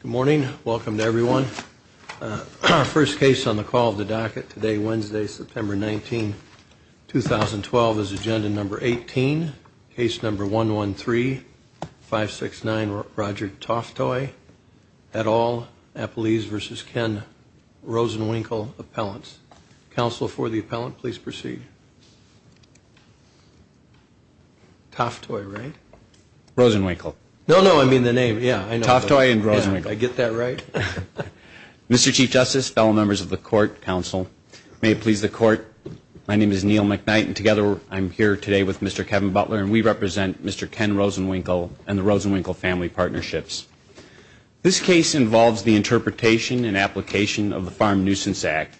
Good morning. Welcome to everyone. Our first case on the call of the docket today, Wednesday, September 19, 2012, is agenda number 18. Case number 113569, Roger Toftoy, et al., Eppelees v. Ken Rosenwinkel Appellants. Counsel for the appellant, please proceed. Toftoy, right? Rosenwinkel. No, no, I mean the name. Yeah, I know. Toftoy and Rosenwinkel. Yeah, I get that right. Mr. Chief Justice, fellow members of the court, counsel, may it please the court, my name is Neil McKnight, and together I'm here today with Mr. Kevin Butler, and we represent Mr. Ken Rosenwinkel and the Rosenwinkel family partnerships. This case involves the interpretation and application of the Farm Nuisance Act,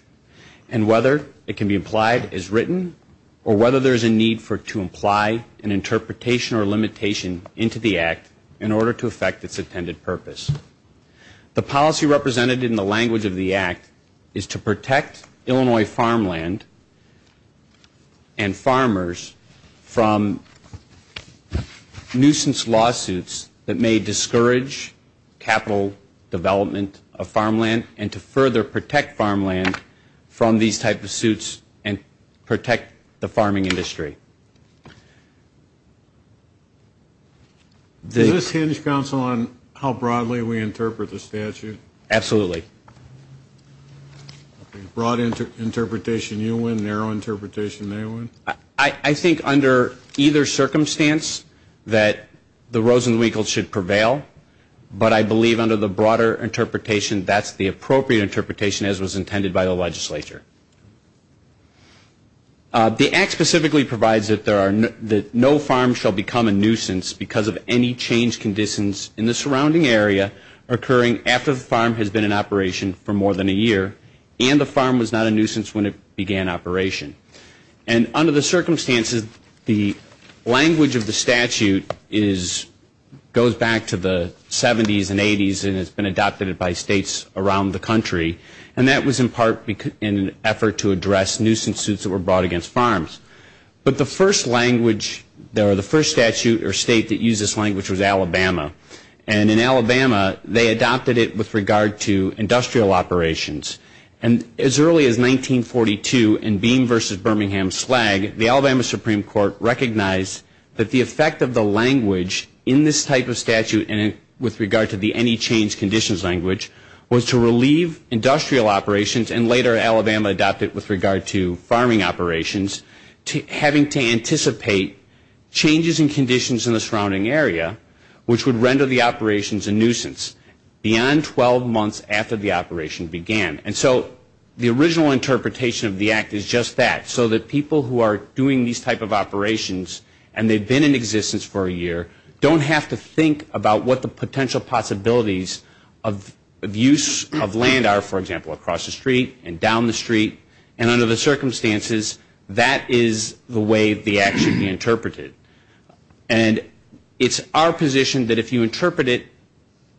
and whether it can be applied as written, or whether there is a need to apply an interpretation or limitation into the act in order to affect its intended purpose. The policy represented in the language of the act is to protect Illinois farmland and farmers from nuisance lawsuits that may discourage capital development of farmland, and to further protect farmland from these type of suits and protect the farming industry. Does this hinge, counsel, on how broadly we interpret the statute? Absolutely. Broad interpretation you win, narrow interpretation they win? I think under either circumstance that the Rosenwinkels should prevail, but I believe under the broader interpretation that's the appropriate interpretation as was intended by the legislature. The act specifically provides that no farm shall become a nuisance because of any change conditions in the surrounding area occurring after the farm has been in operation for more than a year, and the farm was not a nuisance when it began operation. And under the circumstances, the language of the statute goes back to the 70s and 80s and has been adopted by states around the country, and that was in part in an effort to address nuisance suits that were brought against farms. But the first language, or the first statute or state that used this language was Alabama. And in Alabama, they adopted it with regard to industrial operations. And as early as 1942 in Beam versus Birmingham slag, the Alabama Supreme Court recognized that the effect of the language in this type of statute with regard to the any change conditions language was to relieve industrial operations and later Alabama adopted it with regard to farming operations, having to anticipate changes in conditions in the surrounding area which would render the operations a nuisance beyond 12 months after the operation began. And so the original interpretation of the act is just that, so that people who are doing these type of operations and they've been in existence for a year don't have to think about what the potential possibilities of use of land are, for example, across the street and down the street. And under the circumstances, that is the way the act should be interpreted. And it's our position that if you interpret it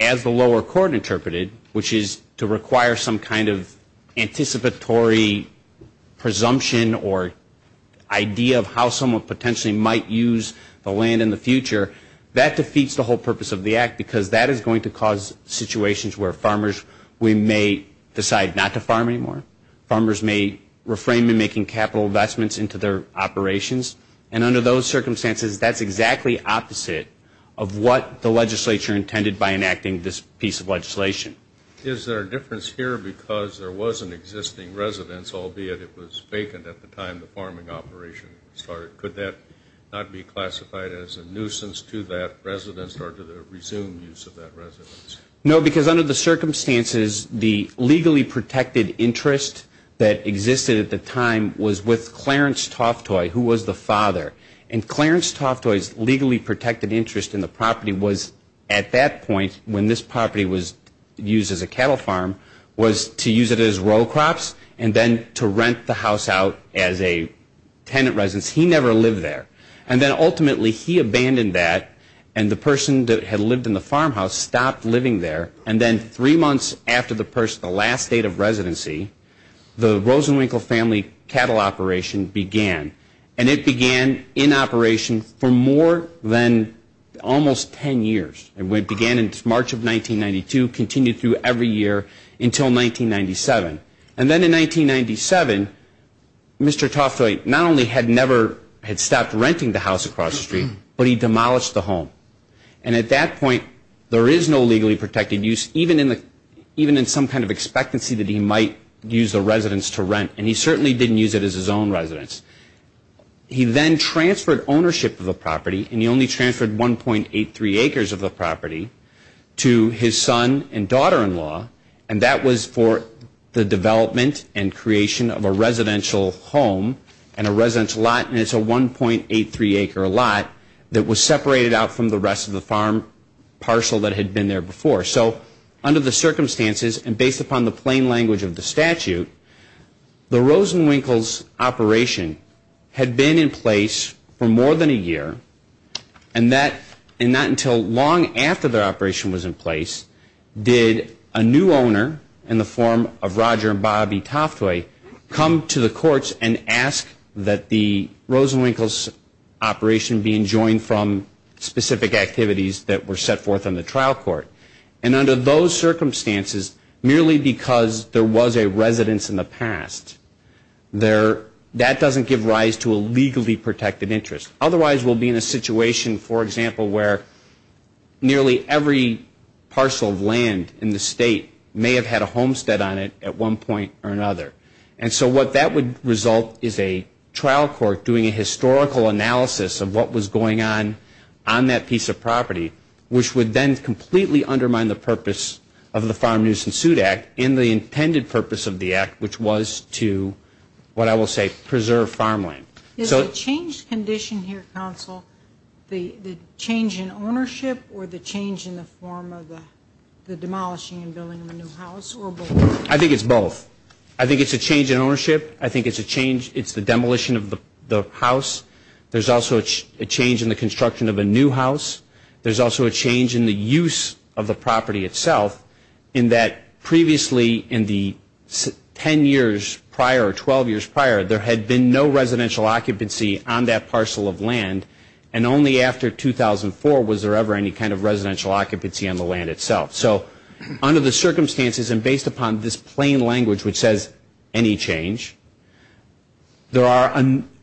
as the lower court interpreted, which is to require some kind of anticipatory presumption or idea of how someone potentially might use the land in the future, that defeats the whole purpose of the act because that is going to cause situations where farmers may decide not to farm anymore. Farmers may refrain from making capital investments into their operations. And under those circumstances, that's exactly opposite of what the legislature intended by enacting this piece of legislation. Is there a difference here because there was an existing residence, albeit it was vacant at the time the farming operation started? Could that not be classified as a nuisance to that residence or to the resumed use of that residence? No, because under the circumstances, the legally protected interest that existed at the time was with Clarence Toftoy, who was the father. And Clarence Toftoy's legally protected interest in the property was at that point, when this property was used as a cattle farm, was to use it as row crops and then to rent the house out as a tenant residence. He never lived there. And then ultimately he abandoned that and the person that had lived in the farmhouse stopped living there. And then three months after the last date of residency, the Rosenwinkel family cattle operation began. And it began in operation for more than almost ten years. It began in March of 1992, continued through every year until 1997. And then in 1997, Mr. Toftoy not only had never stopped renting the house across the street, but he demolished the home. And at that point, there is no legally protected use, even in some kind of expectancy that he might use the residence to rent. And he certainly didn't use it as his own residence. He then transferred ownership of the property, and he only transferred 1.83 acres of the property, to his son and daughter-in-law. And that was for the development and creation of a residential home and a residential lot. And it's a 1.83 acre lot that was separated out from the rest of the farm parcel that had been there before. So under the circumstances and based upon the plain language of the statute, the Rosenwinkel's operation had been in place for more than a year. And that, and not until long after the operation was in place, did a new owner in the form of Roger and Bobby Toftoy come to the courts and ask that the Rosenwinkel's operation be enjoined from specific activities that were set forth in the trial court. And under those circumstances, merely because there was a residence in the past, that doesn't give rise to a legally protected interest. Otherwise, we'll be in a situation, for example, where nearly every parcel of land in the state may have had a homestead on it at one point or another. And so what that would result is a trial court doing a historical analysis of what was going on on that piece of property, which would then completely undermine the purpose of the Farm Nuisance Suit Act and the intended purpose of the act, which was to, what I will say, preserve farmland. Is the change condition here, counsel, the change in ownership or the change in the form of the demolishing and building of a new house, or both? I think it's both. I think it's a change in ownership. I think it's a change, it's the demolition of the house. There's also a change in the construction of a new house. There's also a change in the use of the property itself, in that previously in the 10 years prior or 12 years prior, there had been no residential occupancy on that parcel of land, and only after 2004 was there ever any kind of residential occupancy on the land itself. So under the circumstances and based upon this plain language which says any change, there are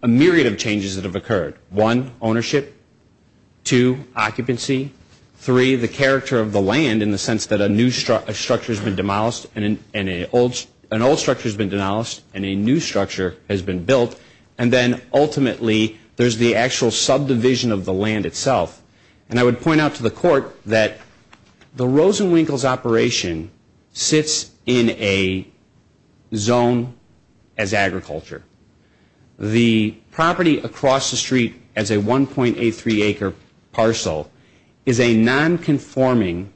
a myriad of changes that have occurred. One, ownership. Two, occupancy. Three, the character of the land in the sense that a new structure has been demolished and an old structure has been demolished and a new structure has been built, and then ultimately there's the actual subdivision of the land itself. And I would point out to the court that the Rosenwinkels operation sits in a zone as agriculture. The property across the street as a 1.83 acre parcel is a non-conforming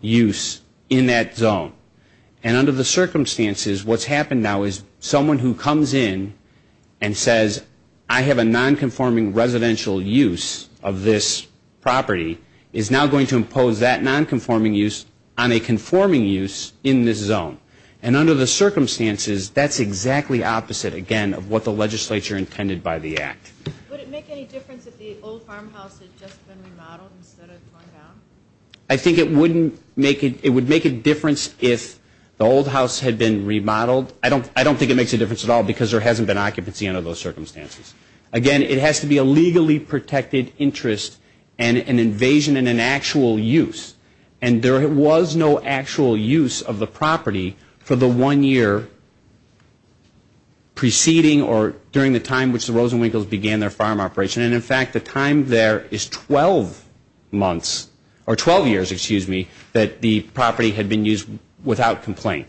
use in that zone. And under the circumstances, what's happened now is someone who comes in and says, I have a non-conforming residential use of this property, is now going to impose that non-conforming use on a conforming use in this zone. And under the circumstances, that's exactly opposite, again, of what the legislature intended by the act. Would it make any difference if the old farmhouse had just been remodeled instead of torn down? I think it would make a difference if the old house had been remodeled. I don't think it makes a difference at all because there hasn't been occupancy under those circumstances. Again, it has to be a legally protected interest and an invasion and an actual use. And there was no actual use of the property for the one year preceding or during the time which the Rosenwinkels began their farm operation. And, in fact, the time there is 12 months or 12 years, excuse me, that the property had been used without complaint.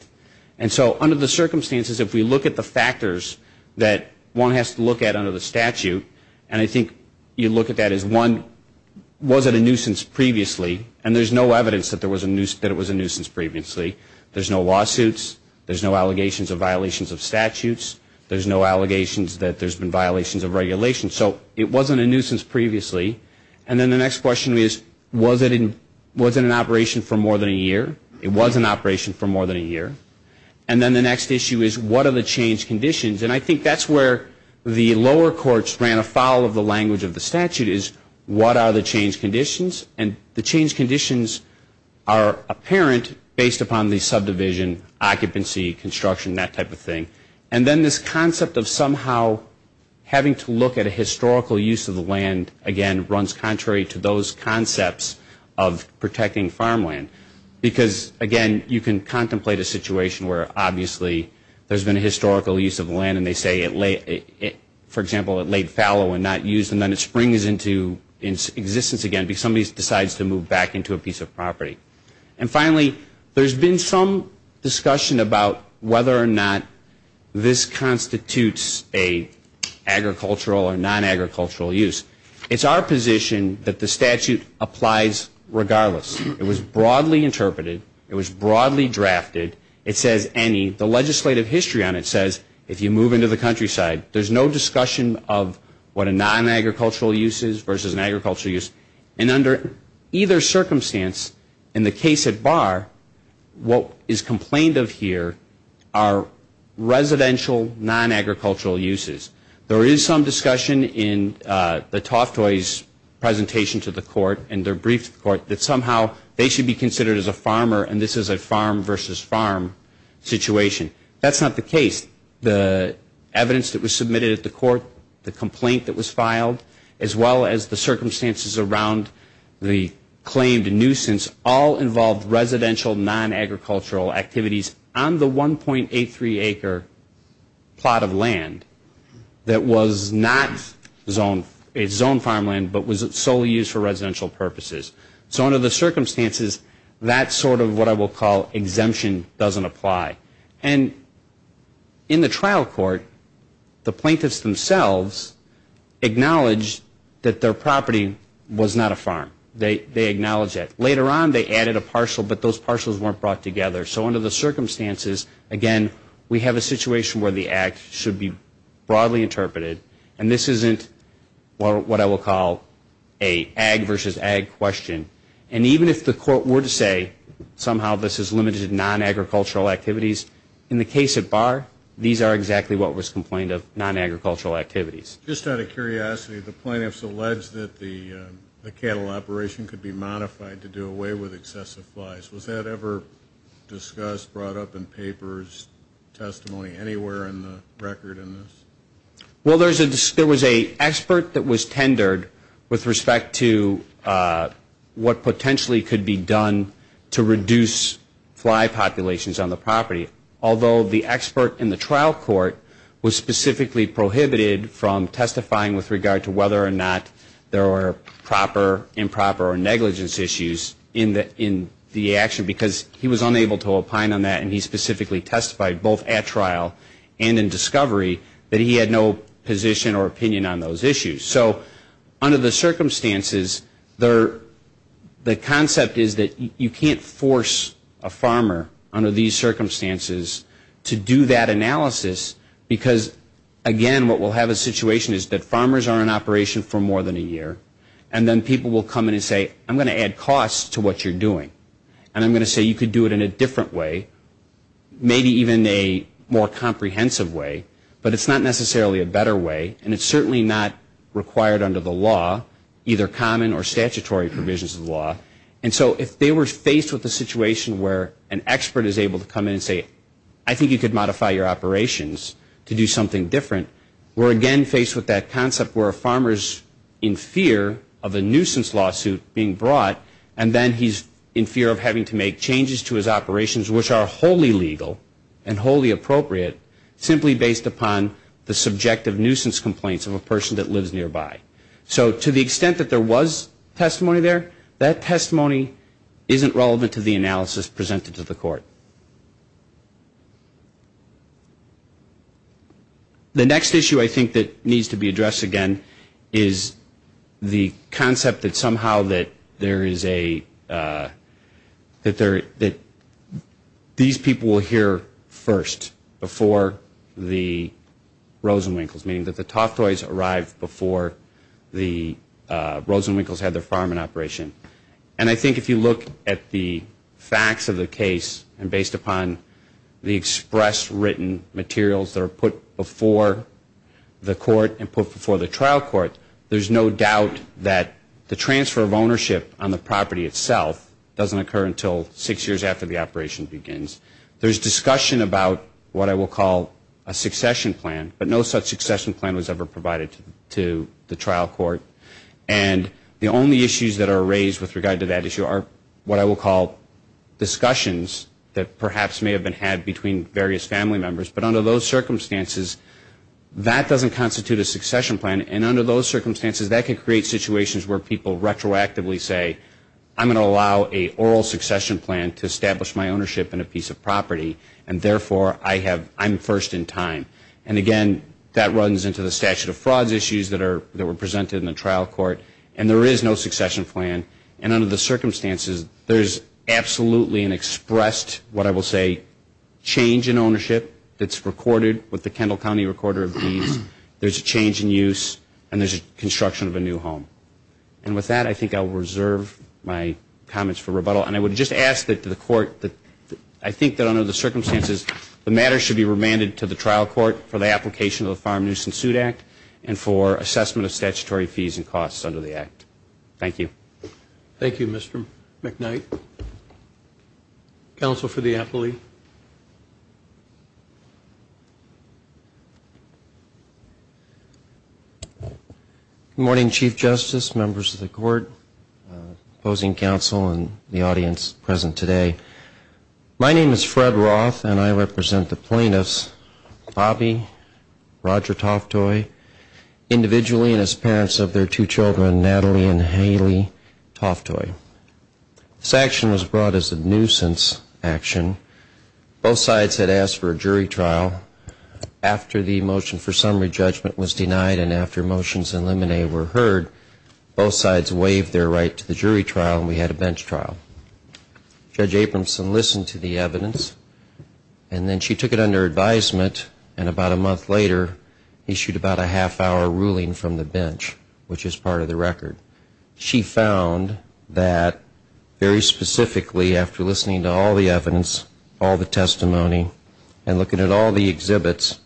And so under the circumstances, if we look at the factors that one has to look at under the statute, and I think you look at that as one, was it a nuisance previously? And there's no evidence that it was a nuisance previously. There's no lawsuits. There's no allegations of violations of statutes. There's no allegations that there's been violations of regulations. So it wasn't a nuisance previously. And then the next question is, was it an operation for more than a year? It was an operation for more than a year. And then the next issue is, what are the change conditions? And I think that's where the lower courts ran afoul of the language of the statute is, what are the change conditions? And the change conditions are apparent based upon the subdivision, occupancy, construction, that type of thing. And then this concept of somehow having to look at a historical use of the land, again, runs contrary to those concepts of protecting farmland. Because, again, you can contemplate a situation where, obviously, there's been a historical use of the land and they say, for example, it laid fallow and not used, and then it springs into existence again because somebody decides to move back into a piece of property. And finally, there's been some discussion about whether or not this constitutes an agricultural or non-agricultural use. It's our position that the statute applies regardless. It was broadly interpreted. It was broadly drafted. It says any. The legislative history on it says if you move into the countryside, there's no discussion of what a non-agricultural use is versus an agricultural use. And under either circumstance, in the case at bar, what is complained of here are residential, non-agricultural uses. There is some discussion in the Toftoy's presentation to the court and their brief to the court that somehow they should be considered as a farmer and this is a farm versus farm situation. That's not the case. The evidence that was submitted at the court, the complaint that was filed, as well as the circumstances around the claimed nuisance, all involved residential, non-agricultural activities on the 1.83 acre plot of land that was not zoned farmland but was solely used for residential purposes. So under the circumstances, that sort of what I will call exemption doesn't apply. And in the trial court, the plaintiffs themselves acknowledge that their property was not a farm. They acknowledge that. Later on, they added a parcel but those parcels weren't brought together. So under the circumstances, again, we have a situation where the act should be broadly interpreted and this isn't what I will call an ag versus ag question. And even if the court were to say somehow this is limited to non-agricultural activities, in the case of Barr, these are exactly what was complained of, non-agricultural activities. Just out of curiosity, the plaintiffs allege that the cattle operation could be modified to do away with excessive flies. Was that ever discussed, brought up in papers, testimony anywhere in the record in this? Well, there was an expert that was tendered with respect to what potentially could be done to reduce fly populations on the property. Although the expert in the trial court was specifically prohibited from testifying with regard to whether or not there were proper, improper, or negligence issues in the action because he was unable to opine on that and he specifically testified both at trial and in discovery that he had no position or opinion on those issues. So under the circumstances, the concept is that you can't force a farmer under these circumstances to do that analysis because, again, what we'll have a situation is that farmers are in operation for more than a year and then people will come in and say, I'm going to add costs to what you're doing. And I'm going to say you could do it in a different way, maybe even a more comprehensive way, but it's not necessarily a better way and it's certainly not required under the law, either common or statutory provisions of the law. And so if they were faced with a situation where an expert is able to come in and say, I think you could modify your operations to do something different, we're again faced with that concept where a farmer is in fear of a nuisance lawsuit being brought and then he's in fear of having to make changes to his operations which are wholly legal and wholly appropriate simply based upon the subjective nuisance complaints of a person that lives nearby. So to the extent that there was testimony there, that testimony isn't relevant to the analysis presented to the court. So the next issue I think that needs to be addressed again is the concept that somehow that there is a, that these people will hear first before the Rosenwinkels, meaning that the Toftoys arrived before the Rosenwinkels had their farm in operation. And I think if you look at the facts of the case and based upon the express written materials that are put before the court and put before the trial court, there's no doubt that the transfer of ownership on the property itself doesn't occur until six years after the operation begins. There's discussion about what I will call a succession plan, but no such succession plan was ever provided to the trial court. And the only issues that are raised with regard to that issue are what I will call discussions that perhaps may have been had between various family members, but under those circumstances that doesn't constitute a succession plan. And under those circumstances that could create situations where people retroactively say, I'm going to allow an oral succession plan to establish my ownership in a piece of property and therefore I'm first in time. And again, that runs into the statute of frauds issues that were presented in the trial court. And there is no succession plan. And under the circumstances, there's absolutely an expressed, what I will say, change in ownership that's recorded with the Kendall County recorder of deeds. There's a change in use and there's a construction of a new home. And with that, I think I'll reserve my comments for rebuttal. And I would just ask that the court, I think that under the circumstances, the matter should be remanded to the trial court for the application of the Farm Nuisance Suit Act and for assessment of statutory fees and costs under the act. Thank you. Thank you, Mr. McKnight. Counsel for the appellee. Good morning, Chief Justice, members of the court, opposing counsel, and the audience present today. My name is Fred Roth and I represent the plaintiffs, Bobby, Roger Toftoy, individually and as parents of their two children, Natalie and Haley Toftoy. This action was brought as a nuisance action. Both sides had asked for a jury trial. After the motion for summary judgment was denied and after motions and limine were heard, both sides waived their right to the jury trial and we had a bench trial. Judge Abramson listened to the evidence and then she took it under advisement and about a month later issued about a half hour ruling from the bench, which is part of the record. She found that very specifically after listening to all the evidence, all the testimony, and looking at all the exhibits,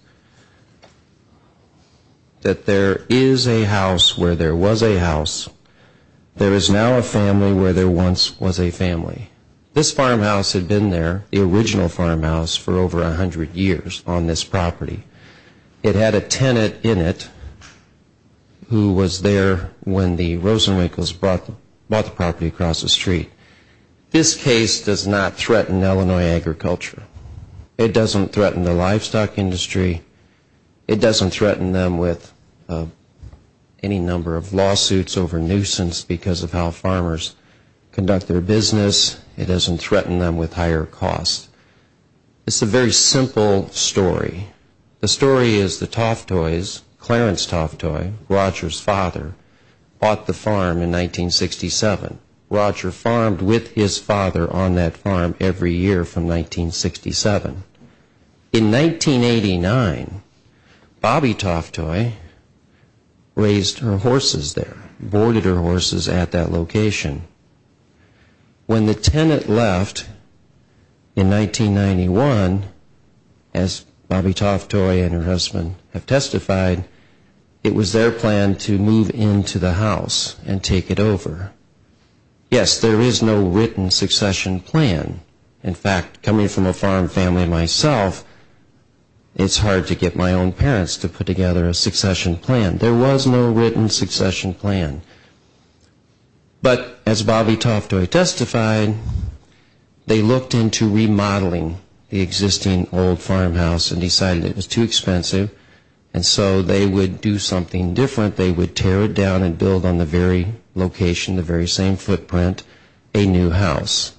that there is a house where there was a house. There is now a family where there once was a family. This farmhouse had been there, the original farmhouse, for over 100 years on this property. It had a tenant in it who was there when the Rosenwinkels bought the property across the street. This case does not threaten Illinois agriculture. It doesn't threaten the livestock industry. It doesn't threaten them with any number of lawsuits over nuisance because of how farmers conduct their business. It doesn't threaten them with higher costs. It's a very simple story. The story is the Toftoys, Clarence Toftoy, Roger's father, bought the farm in 1967. Roger farmed with his father on that farm every year from 1967. In 1989, Bobbie Toftoy raised her horses there, boarded her horses at that location. When the tenant left in 1991, as Bobbie Toftoy and her husband have testified, it was their plan to move into the house and take it over. Yes, there is no written succession plan. In fact, coming from a farm family myself, it's hard to get my own parents to put together a succession plan. There was no written succession plan. But as Bobbie Toftoy testified, they looked into remodeling the existing old farmhouse and decided it was too expensive, and so they would do something different. They would tear it down and build on the very location, the very same footprint, a new house.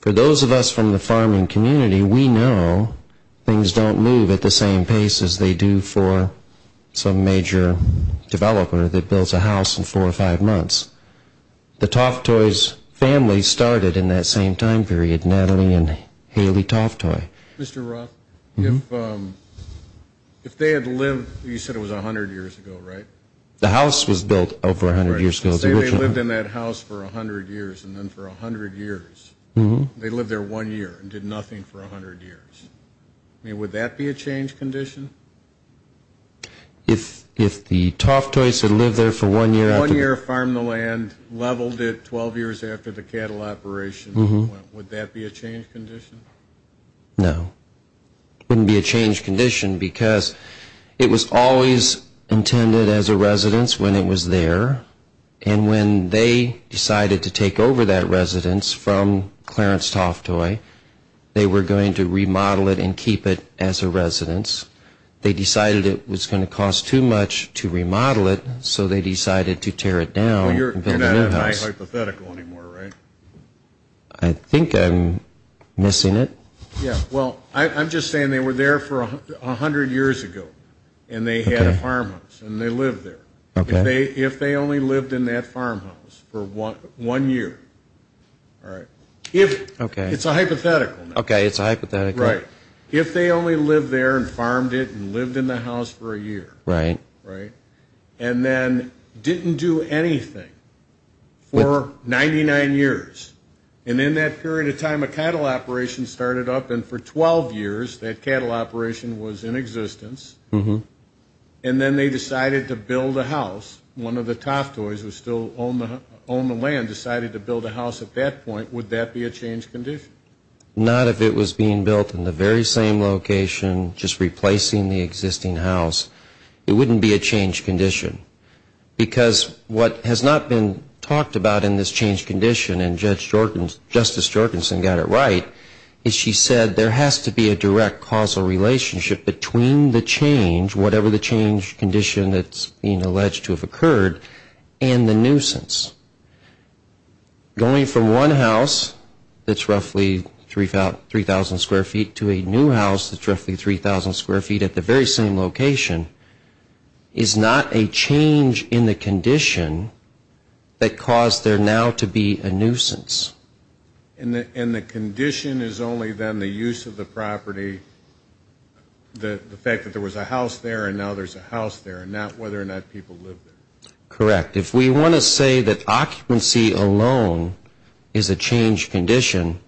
For those of us from the farming community, we know things don't move at the same pace as they do for some major developer that builds a house in four or five months. The Toftoys' family started in that same time period, Natalie and Haley Toftoy. Mr. Roth, if they had lived, you said it was 100 years ago, right? The house was built over 100 years ago. Let's say they lived in that house for 100 years, and then for 100 years, they lived there one year and did nothing for 100 years. I mean, would that be a change condition? If the Toftoys had lived there for one year? One year, farmed the land, leveled it 12 years after the cattle operation, would that be a change condition? No. It wouldn't be a change condition because it was always intended as a residence when it was there, and when they decided to take over that residence from Clarence Toftoy, they were going to remodel it and keep it as a residence. They decided it was going to cost too much to remodel it, so they decided to tear it down. You're not at my hypothetical anymore, right? I think I'm missing it. Yeah, well, I'm just saying they were there for 100 years ago, and they had a farmhouse, and they lived there. Okay. If they only lived in that farmhouse for one year. Okay. It's a hypothetical now. Okay, it's a hypothetical. Right. If they only lived there and farmed it and lived in the house for a year. Right. Right. And then didn't do anything for 99 years. And in that period of time, a cattle operation started up, and for 12 years that cattle operation was in existence, and then they decided to build a house. One of the Toftoys who still owned the land decided to build a house at that point. Would that be a change condition? Not if it was being built in the very same location, just replacing the existing house. It wouldn't be a change condition, because what has not been talked about in this change condition, and Justice Jorgenson got it right, is she said there has to be a direct causal relationship between the change, whatever the change condition that's being alleged to have occurred, and the nuisance. Going from one house that's roughly 3,000 square feet to a new house that's roughly 3,000 square feet at the very same location is not a change in the condition that caused there now to be a nuisance. And the condition is only then the use of the property, the fact that there was a house there and now there's a house there, and not whether or not people lived there. Correct. If we want to say that occupancy alone is a change condition,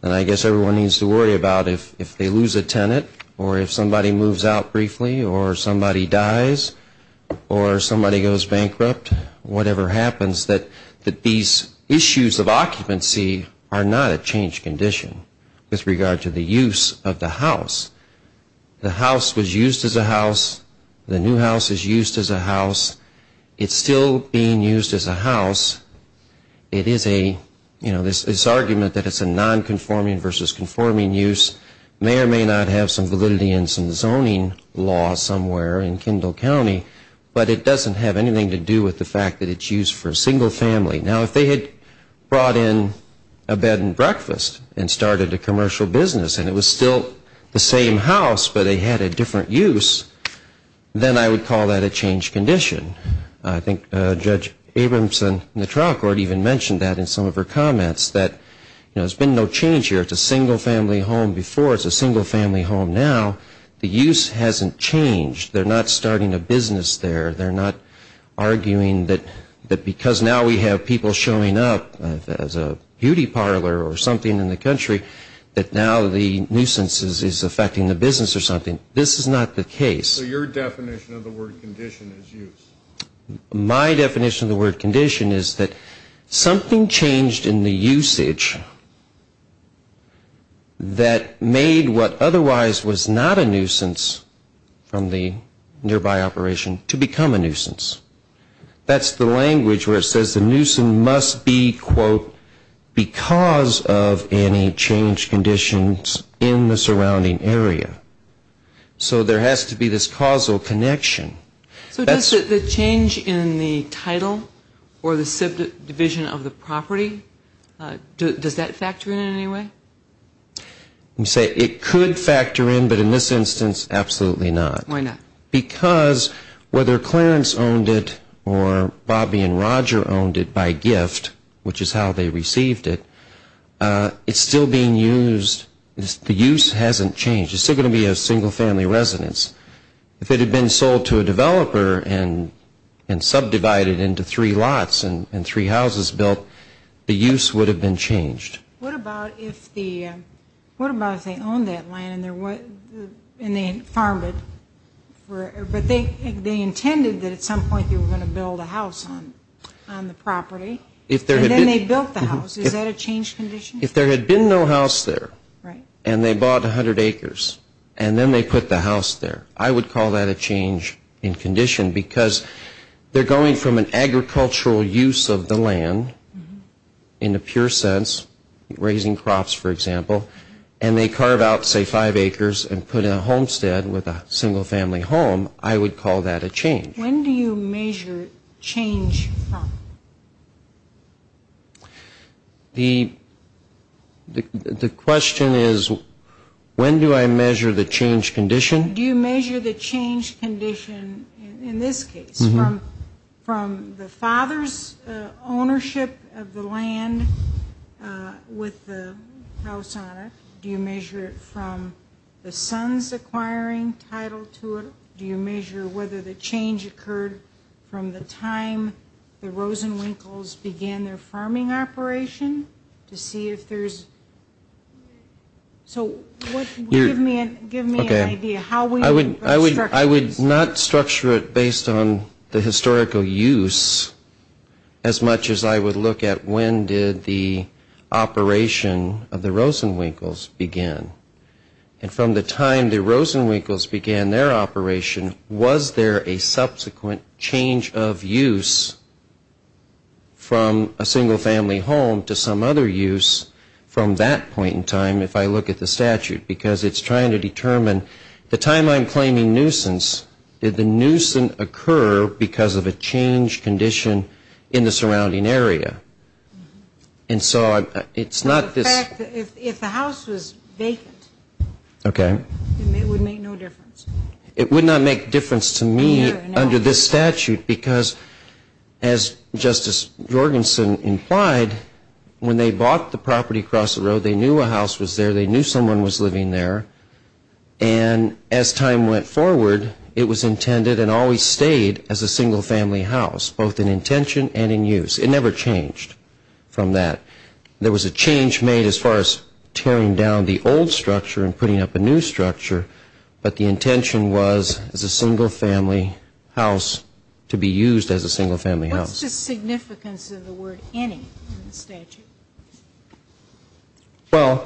then I guess everyone needs to worry about if they lose a tenant, or if somebody moves out briefly, or somebody dies, or somebody goes bankrupt, whatever happens, that these issues of occupancy are not a change condition with regard to the use of the house. The house was used as a house. The new house is used as a house. It's still being used as a house. It is a, you know, this argument that it's a non-conforming versus conforming use may or may not have some validity in some zoning law somewhere in Kendall County, but it doesn't have anything to do with the fact that it's used for a single family. Now, if they had brought in a bed and breakfast and started a commercial business and it was still the same house but they had a different use, then I would call that a change condition. I think Judge Abramson in the trial court even mentioned that in some of her comments, that, you know, there's been no change here. It's a single family home before. It's a single family home now. The use hasn't changed. They're not starting a business there. They're not arguing that because now we have people showing up as a beauty parlor or something in the country that now the nuisance is affecting the business or something. This is not the case. So your definition of the word condition is use. My definition of the word condition is that something changed in the usage that made what otherwise was not a nuisance from the nearby operation to become a nuisance. That's the language where it says the nuisance must be, quote, because of any change conditions in the surrounding area. So there has to be this causal connection. So does the change in the title or the subdivision of the property, does that factor in in any way? You say it could factor in, but in this instance, absolutely not. Why not? Because whether Clarence owned it or Bobby and Roger owned it by gift, which is how they received it, it's still being used. The use hasn't changed. It's still going to be a single-family residence. If it had been sold to a developer and subdivided into three lots and three houses built, the use would have been changed. What about if they owned that land and they farmed it? But they intended that at some point they were going to build a house on the property, and then they built the house. Is that a change condition? If there had been no house there and they bought 100 acres and then they put the house there, I would call that a change in condition because they're going from an agricultural use of the land in the pure sense, raising crops, for example, and they carve out, say, five acres and put in a homestead with a single-family home, I would call that a change. When do you measure change from? The question is when do I measure the change condition? Do you measure the change condition in this case from the father's ownership of the land with the house on it? Do you measure it from the son's acquiring title to it? Do you measure whether the change occurred from the time the Rosenwinkels began their farming operation? So give me an idea how we would structure this. I would not structure it based on the historical use as much as I would look at when did the operation of the Rosenwinkels begin. And from the time the Rosenwinkels began their operation, was there a subsequent change of use from a single-family home to some other use from that point in time if I look at the statute? Because it's trying to determine the time I'm claiming nuisance, did the nuisance occur because of a change condition in the surrounding area? And so it's not this... If the house was vacant, it would make no difference. It would not make difference to me under this statute because, as Justice Jorgensen implied, when they bought the property across the road, they knew a house was there, they knew someone was living there, and as time went forward, it was intended and always stayed as a single-family house, both in intention and in use. It never changed from that. There was a change made as far as tearing down the old structure and putting up a new structure, but the intention was as a single-family house to be used as a single-family house. What's the significance of the word any in the statute? Well,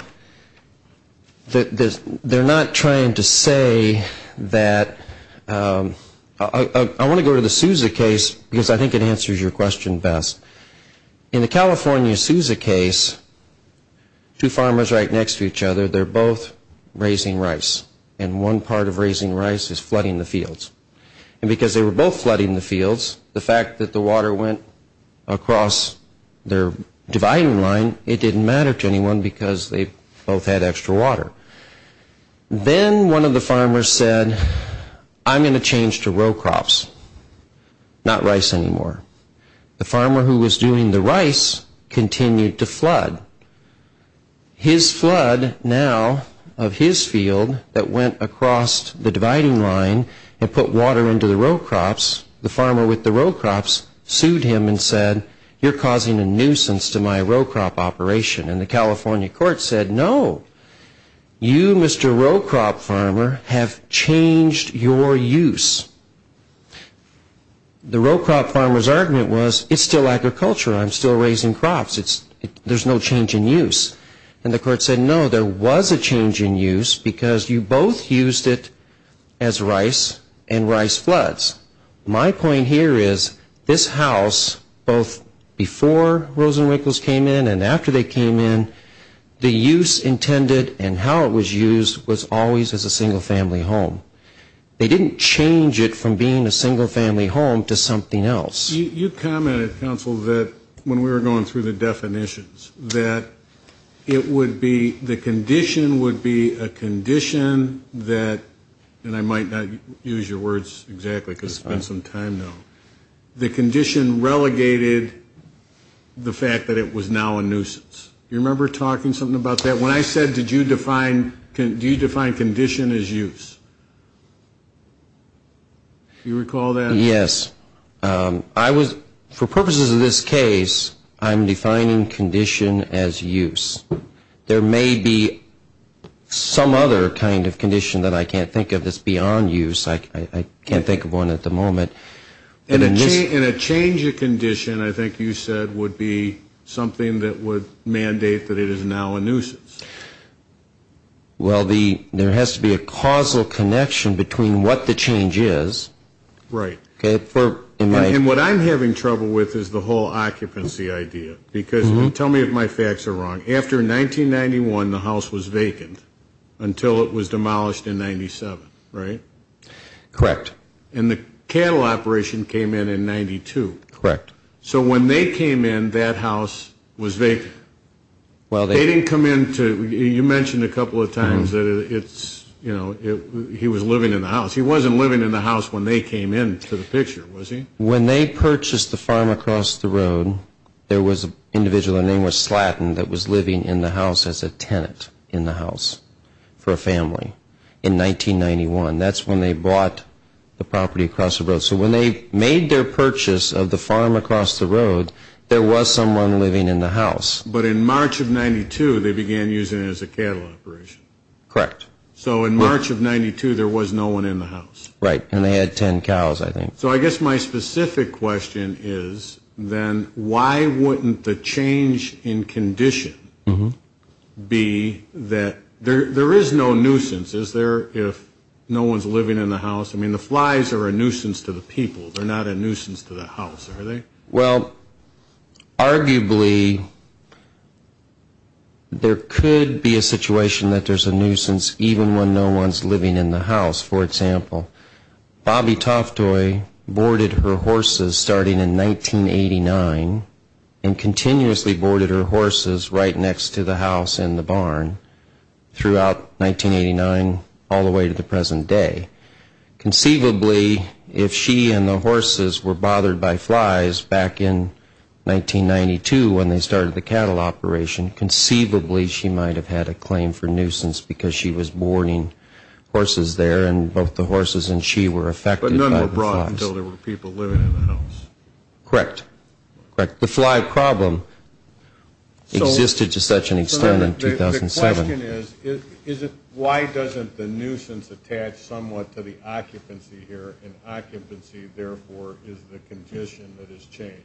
they're not trying to say that... I want to go to the Sousa case because I think it answers your question best. In the California Sousa case, two farmers right next to each other, they're both raising rice, and one part of raising rice is flooding the fields. And because they were both flooding the fields, the fact that the water went across their dividing line, it didn't matter to anyone because they both had extra water. Then one of the farmers said, I'm going to change to row crops, not rice anymore. The farmer who was doing the rice continued to flood. His flood now of his field that went across the dividing line and put water into the row crops, the farmer with the row crops sued him and said, you're causing a nuisance to my row crop operation. And the California court said, no, you, Mr. Row Crop Farmer, have changed your use. The row crop farmer's argument was, it's still agriculture, I'm still raising crops, there's no change in use. And the court said, no, there was a change in use because you both used it as rice and rice floods. My point here is, this house, both before Rosenwickles came in and after they came in, the use intended and how it was used was always as a single family home. They didn't change it from being a single family home to something else. You commented, counsel, that when we were going through the definitions, that it would be, the condition would be a condition that, and I might not use your words exactly because it's been some time now, the condition relegated the fact that it was now a nuisance. Do you remember talking something about that? When I said, did you define, do you define condition as use? Do you recall that? Yes. I was, for purposes of this case, I'm defining condition as use. There may be some other kind of condition that I can't think of that's beyond use. I can't think of one at the moment. And a change of condition, I think you said, would be something that would mandate that it is now a nuisance. Well, there has to be a causal connection between what the change is. Right. Okay. And what I'm having trouble with is the whole occupancy idea. Because tell me if my facts are wrong. After 1991, the house was vacant until it was demolished in 97, right? Correct. And the cattle operation came in in 92. Correct. So when they came in, that house was vacant. They didn't come in to, you mentioned a couple of times that it's, you know, he was living in the house. He wasn't living in the house when they came in to the picture, was he? When they purchased the farm across the road, there was an individual, the name was Slatton, that was living in the house as a tenant in the house for a family in 1991. That's when they bought the property across the road. So when they made their purchase of the farm across the road, there was someone living in the house. But in March of 92, they began using it as a cattle operation. Correct. So in March of 92, there was no one in the house. Right. And they had 10 cows, I think. So I guess my specific question is, then, why wouldn't the change in condition be that there is no nuisance? Is there if no one's living in the house? I mean, the flies are a nuisance to the people. They're not a nuisance to the house, are they? Well, arguably, there could be a situation that there's a nuisance even when no one's living in the house. For example, Bobbie Toftoy boarded her horses starting in 1989 and continuously boarded her horses right next to the house and the barn throughout 1989 all the way to the present day. Conceivably, if she and the horses were bothered by flies back in 1992 when they started the cattle operation, conceivably, she might have had a claim for nuisance because she was boarding horses there and both the horses and she were affected by the flies. But none were brought until there were people living in the house. Correct. Correct. The fly problem existed to such an extent in 2007. The question is, why doesn't the nuisance attach somewhat to the occupancy here, and occupancy, therefore, is the condition that has changed?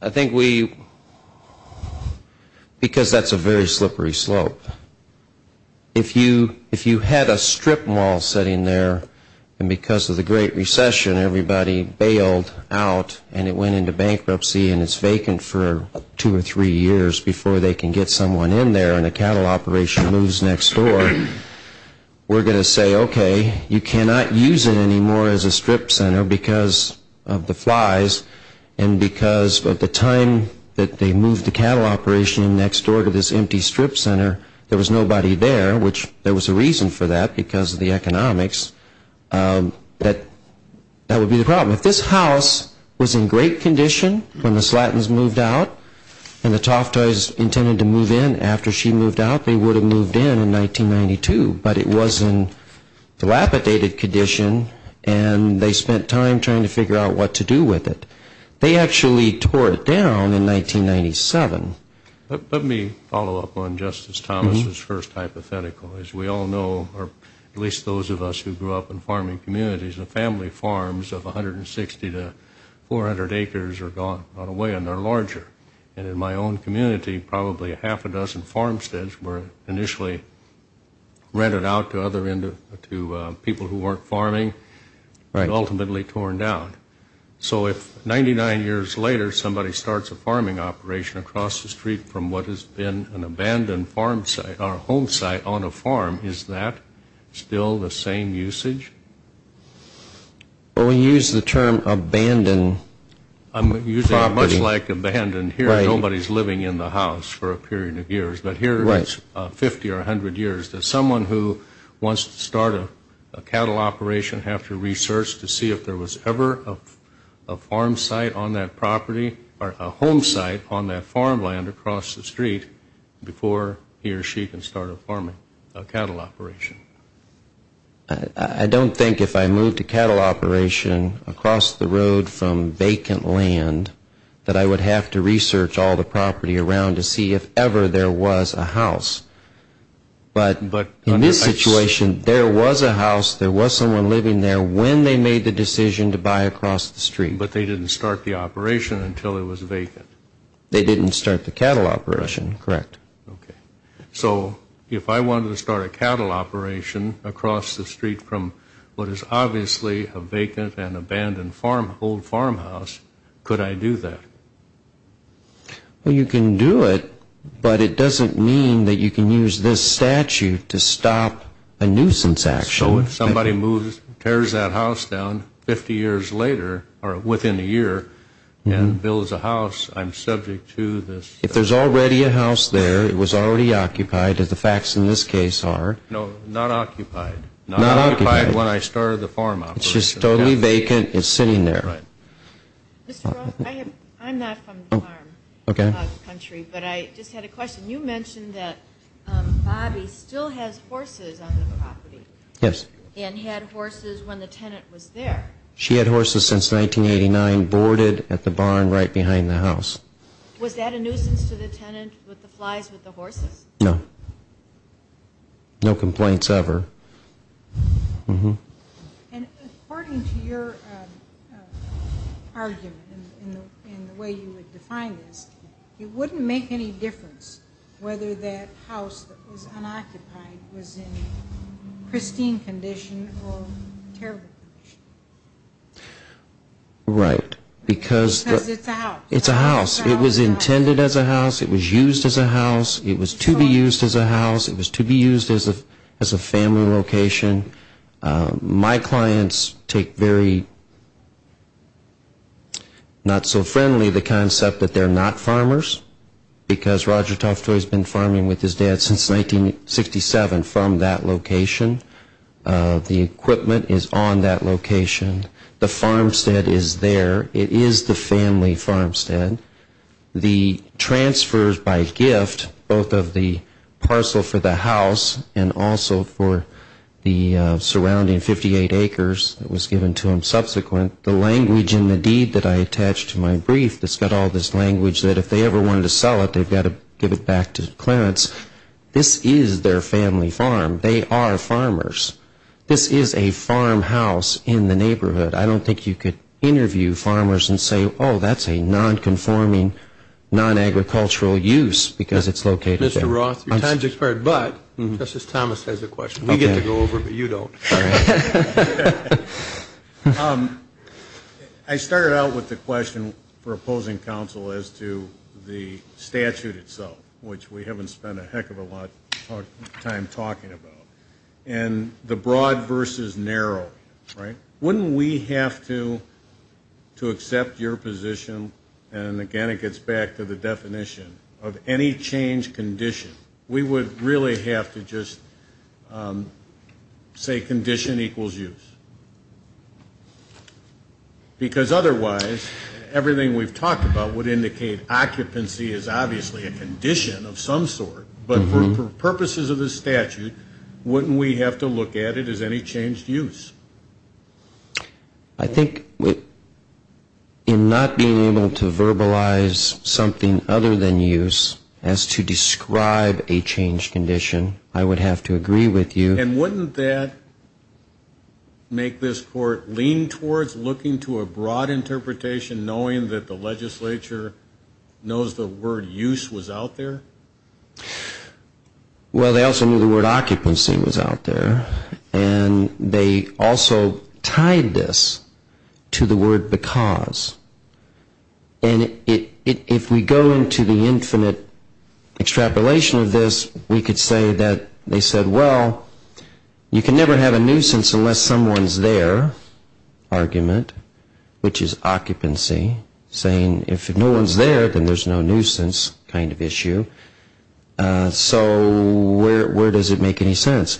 I think we, because that's a very slippery slope, if you had a strip mall sitting there and because of the Great Recession, everybody bailed out and it went into bankruptcy and it's vacant for two or three years before they can get someone in there and a cattle operation moves next door, we're going to say, okay, you cannot use it anymore as a strip center because of the flies and because of the time that they moved the cattle operation next door to this empty strip center, there was nobody there, which there was a reason for that because of the economics, that would be the problem. If this house was in great condition when the Slattons moved out and the Toftoys intended to move in after she moved out, they would have moved in in 1992, but it was in dilapidated condition and they spent time trying to figure out what to do with it. They actually tore it down in 1997. Let me follow up on Justice Thomas' first hypothetical. As we all know, or at least those of us who grew up in farming communities, the family farms of 160 to 400 acres are gone right away and they're larger. And in my own community, probably half a dozen farmsteads were initially rented out to people who weren't farming and ultimately torn down. So if 99 years later somebody starts a farming operation across the street from what has been an abandoned home site on a farm, is that still the same usage? Well, we use the term abandoned property. I'm using it much like abandoned. Here nobody's living in the house for a period of years, but here it's 50 or 100 years. Does someone who wants to start a cattle operation have to research to see if there was ever a farm site on that property or a home site on that farmland across the street before he or she can start a cattle operation? I don't think if I moved a cattle operation across the road from vacant land that I would have to research all the property around to see if ever there was a house. But in this situation, there was a house. There was someone living there when they made the decision to buy across the street. But they didn't start the operation until it was vacant. They didn't start the cattle operation, correct. Okay. So if I wanted to start a cattle operation across the street from what is obviously a vacant and abandoned old farmhouse, could I do that? Well, you can do it, but it doesn't mean that you can use this statute to stop a nuisance action. So if somebody tears that house down 50 years later or within a year and builds a house, I'm subject to this? If there's already a house there, it was already occupied, as the facts in this case are. No, not occupied. Not occupied. Not occupied when I started the farm operation. It's just totally vacant. It's sitting there. Right. Mr. Roth, I'm not from the farm country, but I just had a question. You mentioned that Bobbie still has horses on the property. Yes. And had horses when the tenant was there. She had horses since 1989, boarded at the barn right behind the house. Was that a nuisance to the tenant with the flies with the horses? No. No complaints ever. And according to your argument and the way you would define this, it wouldn't make any difference whether that house that was unoccupied was in pristine condition or terrible condition. Right. Because it's a house. It was intended as a house. It was used as a house. It was to be used as a house. It was to be used as a family location. My clients take very not-so-friendly the concept that they're not farmers, because Roger Toftoy has been farming with his dad since 1967 from that location. The equipment is on that location. The farmstead is there. It is the family farmstead. The transfers by gift, both of the parcel for the house and also for the surrounding 58 acres that was given to them subsequent, the language in the deed that I attached to my brief that's got all this language that if they ever wanted to sell it, they've got to give it back to Clarence. This is their family farm. They are farmers. This is a farmhouse in the neighborhood. I don't think you could interview farmers and say, oh, that's a non-conforming, non-agricultural use because it's located there. Mr. Roth, your time has expired, but Justice Thomas has a question. We get to go over, but you don't. I started out with a question for opposing counsel as to the statute itself, which we haven't spent a heck of a lot of time talking about. And the broad versus narrow, right? Wouldn't we have to accept your position, and again it gets back to the definition, of any change condition? We would really have to just say condition equals use. Because otherwise, everything we've talked about would indicate occupancy is obviously a condition of some sort, but for purposes of the statute, wouldn't we have to look at it as any changed use? I think in not being able to verbalize something other than use as to describe a change condition, I would have to agree with you. And wouldn't that make this court lean towards looking to a broad interpretation, knowing that the legislature knows the word use was out there? Well, they also knew the word occupancy was out there, and they also tied this to the word because. And if we go into the infinite extrapolation of this, we could say that they said, well, you can never have a nuisance unless someone's there argument, which is occupancy, saying if no one's there, then there's no nuisance kind of issue. So where does it make any sense?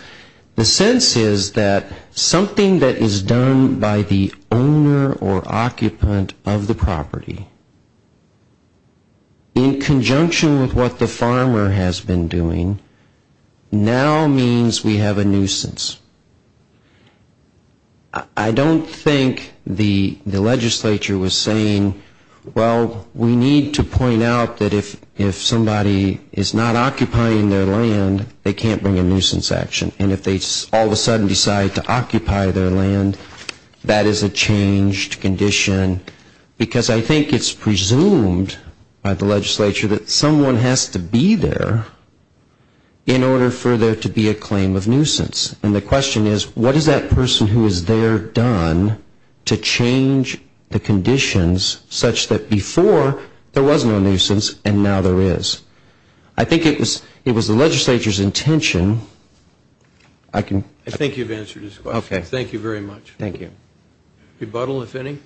The sense is that something that is done by the owner or occupant of the property, in conjunction with what the farmer has been doing, now means we have a nuisance. I don't think the legislature was saying, well, we need to point out that if somebody is not occupying their land, they can't bring a nuisance action. And if they all of a sudden decide to occupy their land, that is a changed condition. Because I think it's presumed by the legislature that someone has to be there in order for there to be a claim of nuisance. And the question is, what has that person who is there done to change the conditions such that before there was no nuisance and now there is? I think it was the legislature's intention. I think you've answered his question. Okay. Thank you very much. Thank you. Rebuttal, if any.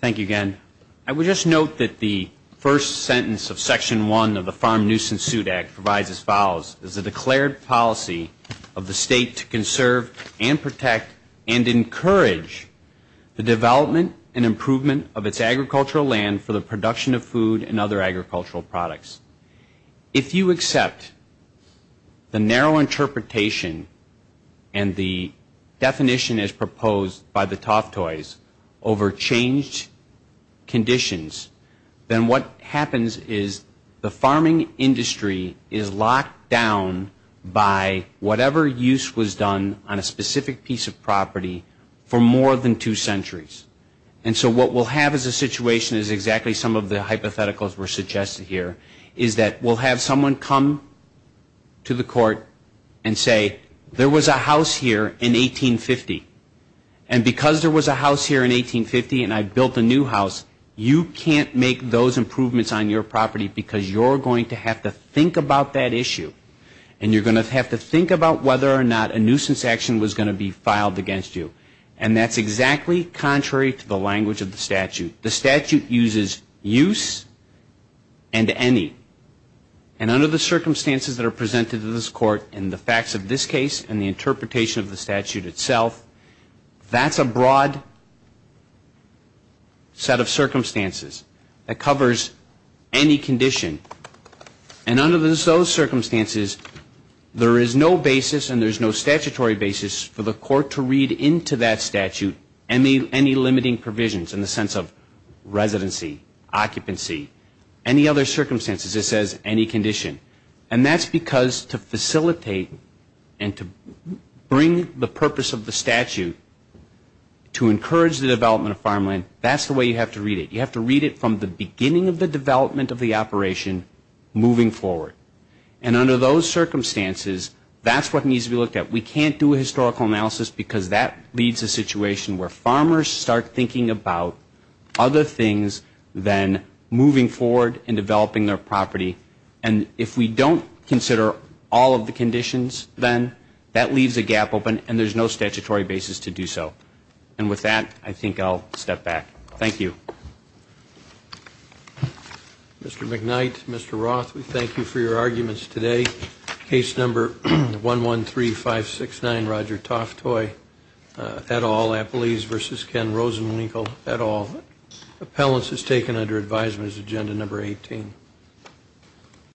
Thank you again. I would just note that the first sentence of Section 1 of the Farm Nuisance Suit Act provides as follows. It's a declared policy of the state to conserve and protect and encourage the development and improvement of its agricultural land for the production of food and other agricultural products. If you accept the narrow interpretation and the definition as proposed by the Toftoys over changed conditions, then what happens is the farming industry is locked down by whatever use was done on a specific piece of property for more than two centuries. And so what we'll have as a situation is exactly some of the hypotheticals were suggested here, is that we'll have someone come to the court and say there was a house here in 1850. And because there was a house here in 1850 and I built a new house, you can't make those improvements on your property because you're going to have to think about that issue. And you're going to have to think about whether or not a nuisance action was going to be filed against you. And that's exactly contrary to the language of the statute. The statute uses use and any. And under the circumstances that are presented to this court in the facts of this case and the interpretation of the statute itself, that's a broad set of circumstances that covers any condition. And under those circumstances, there is no basis and there's no statutory basis for the court to read into that statute any limiting provisions in the sense of residency, occupancy, any other circumstances. It says any condition. And that's because to facilitate and to bring the purpose of the statute to encourage the development of farmland, that's the way you have to read it. You have to read it from the beginning of the development of the operation moving forward. And under those circumstances, that's what needs to be looked at. We can't do a historical analysis because that leads to a situation where farmers start thinking about other things than moving forward and developing their property. And if we don't consider all of the conditions, then that leaves a gap open and there's no statutory basis to do so. And with that, I think I'll step back. Thank you. Mr. McKnight, Mr. Roth, we thank you for your arguments today. Case number 113569, Roger Toftoy et al. Appellees versus Ken Rosenwinkel et al. Appellants as taken under advisement is agenda number 18.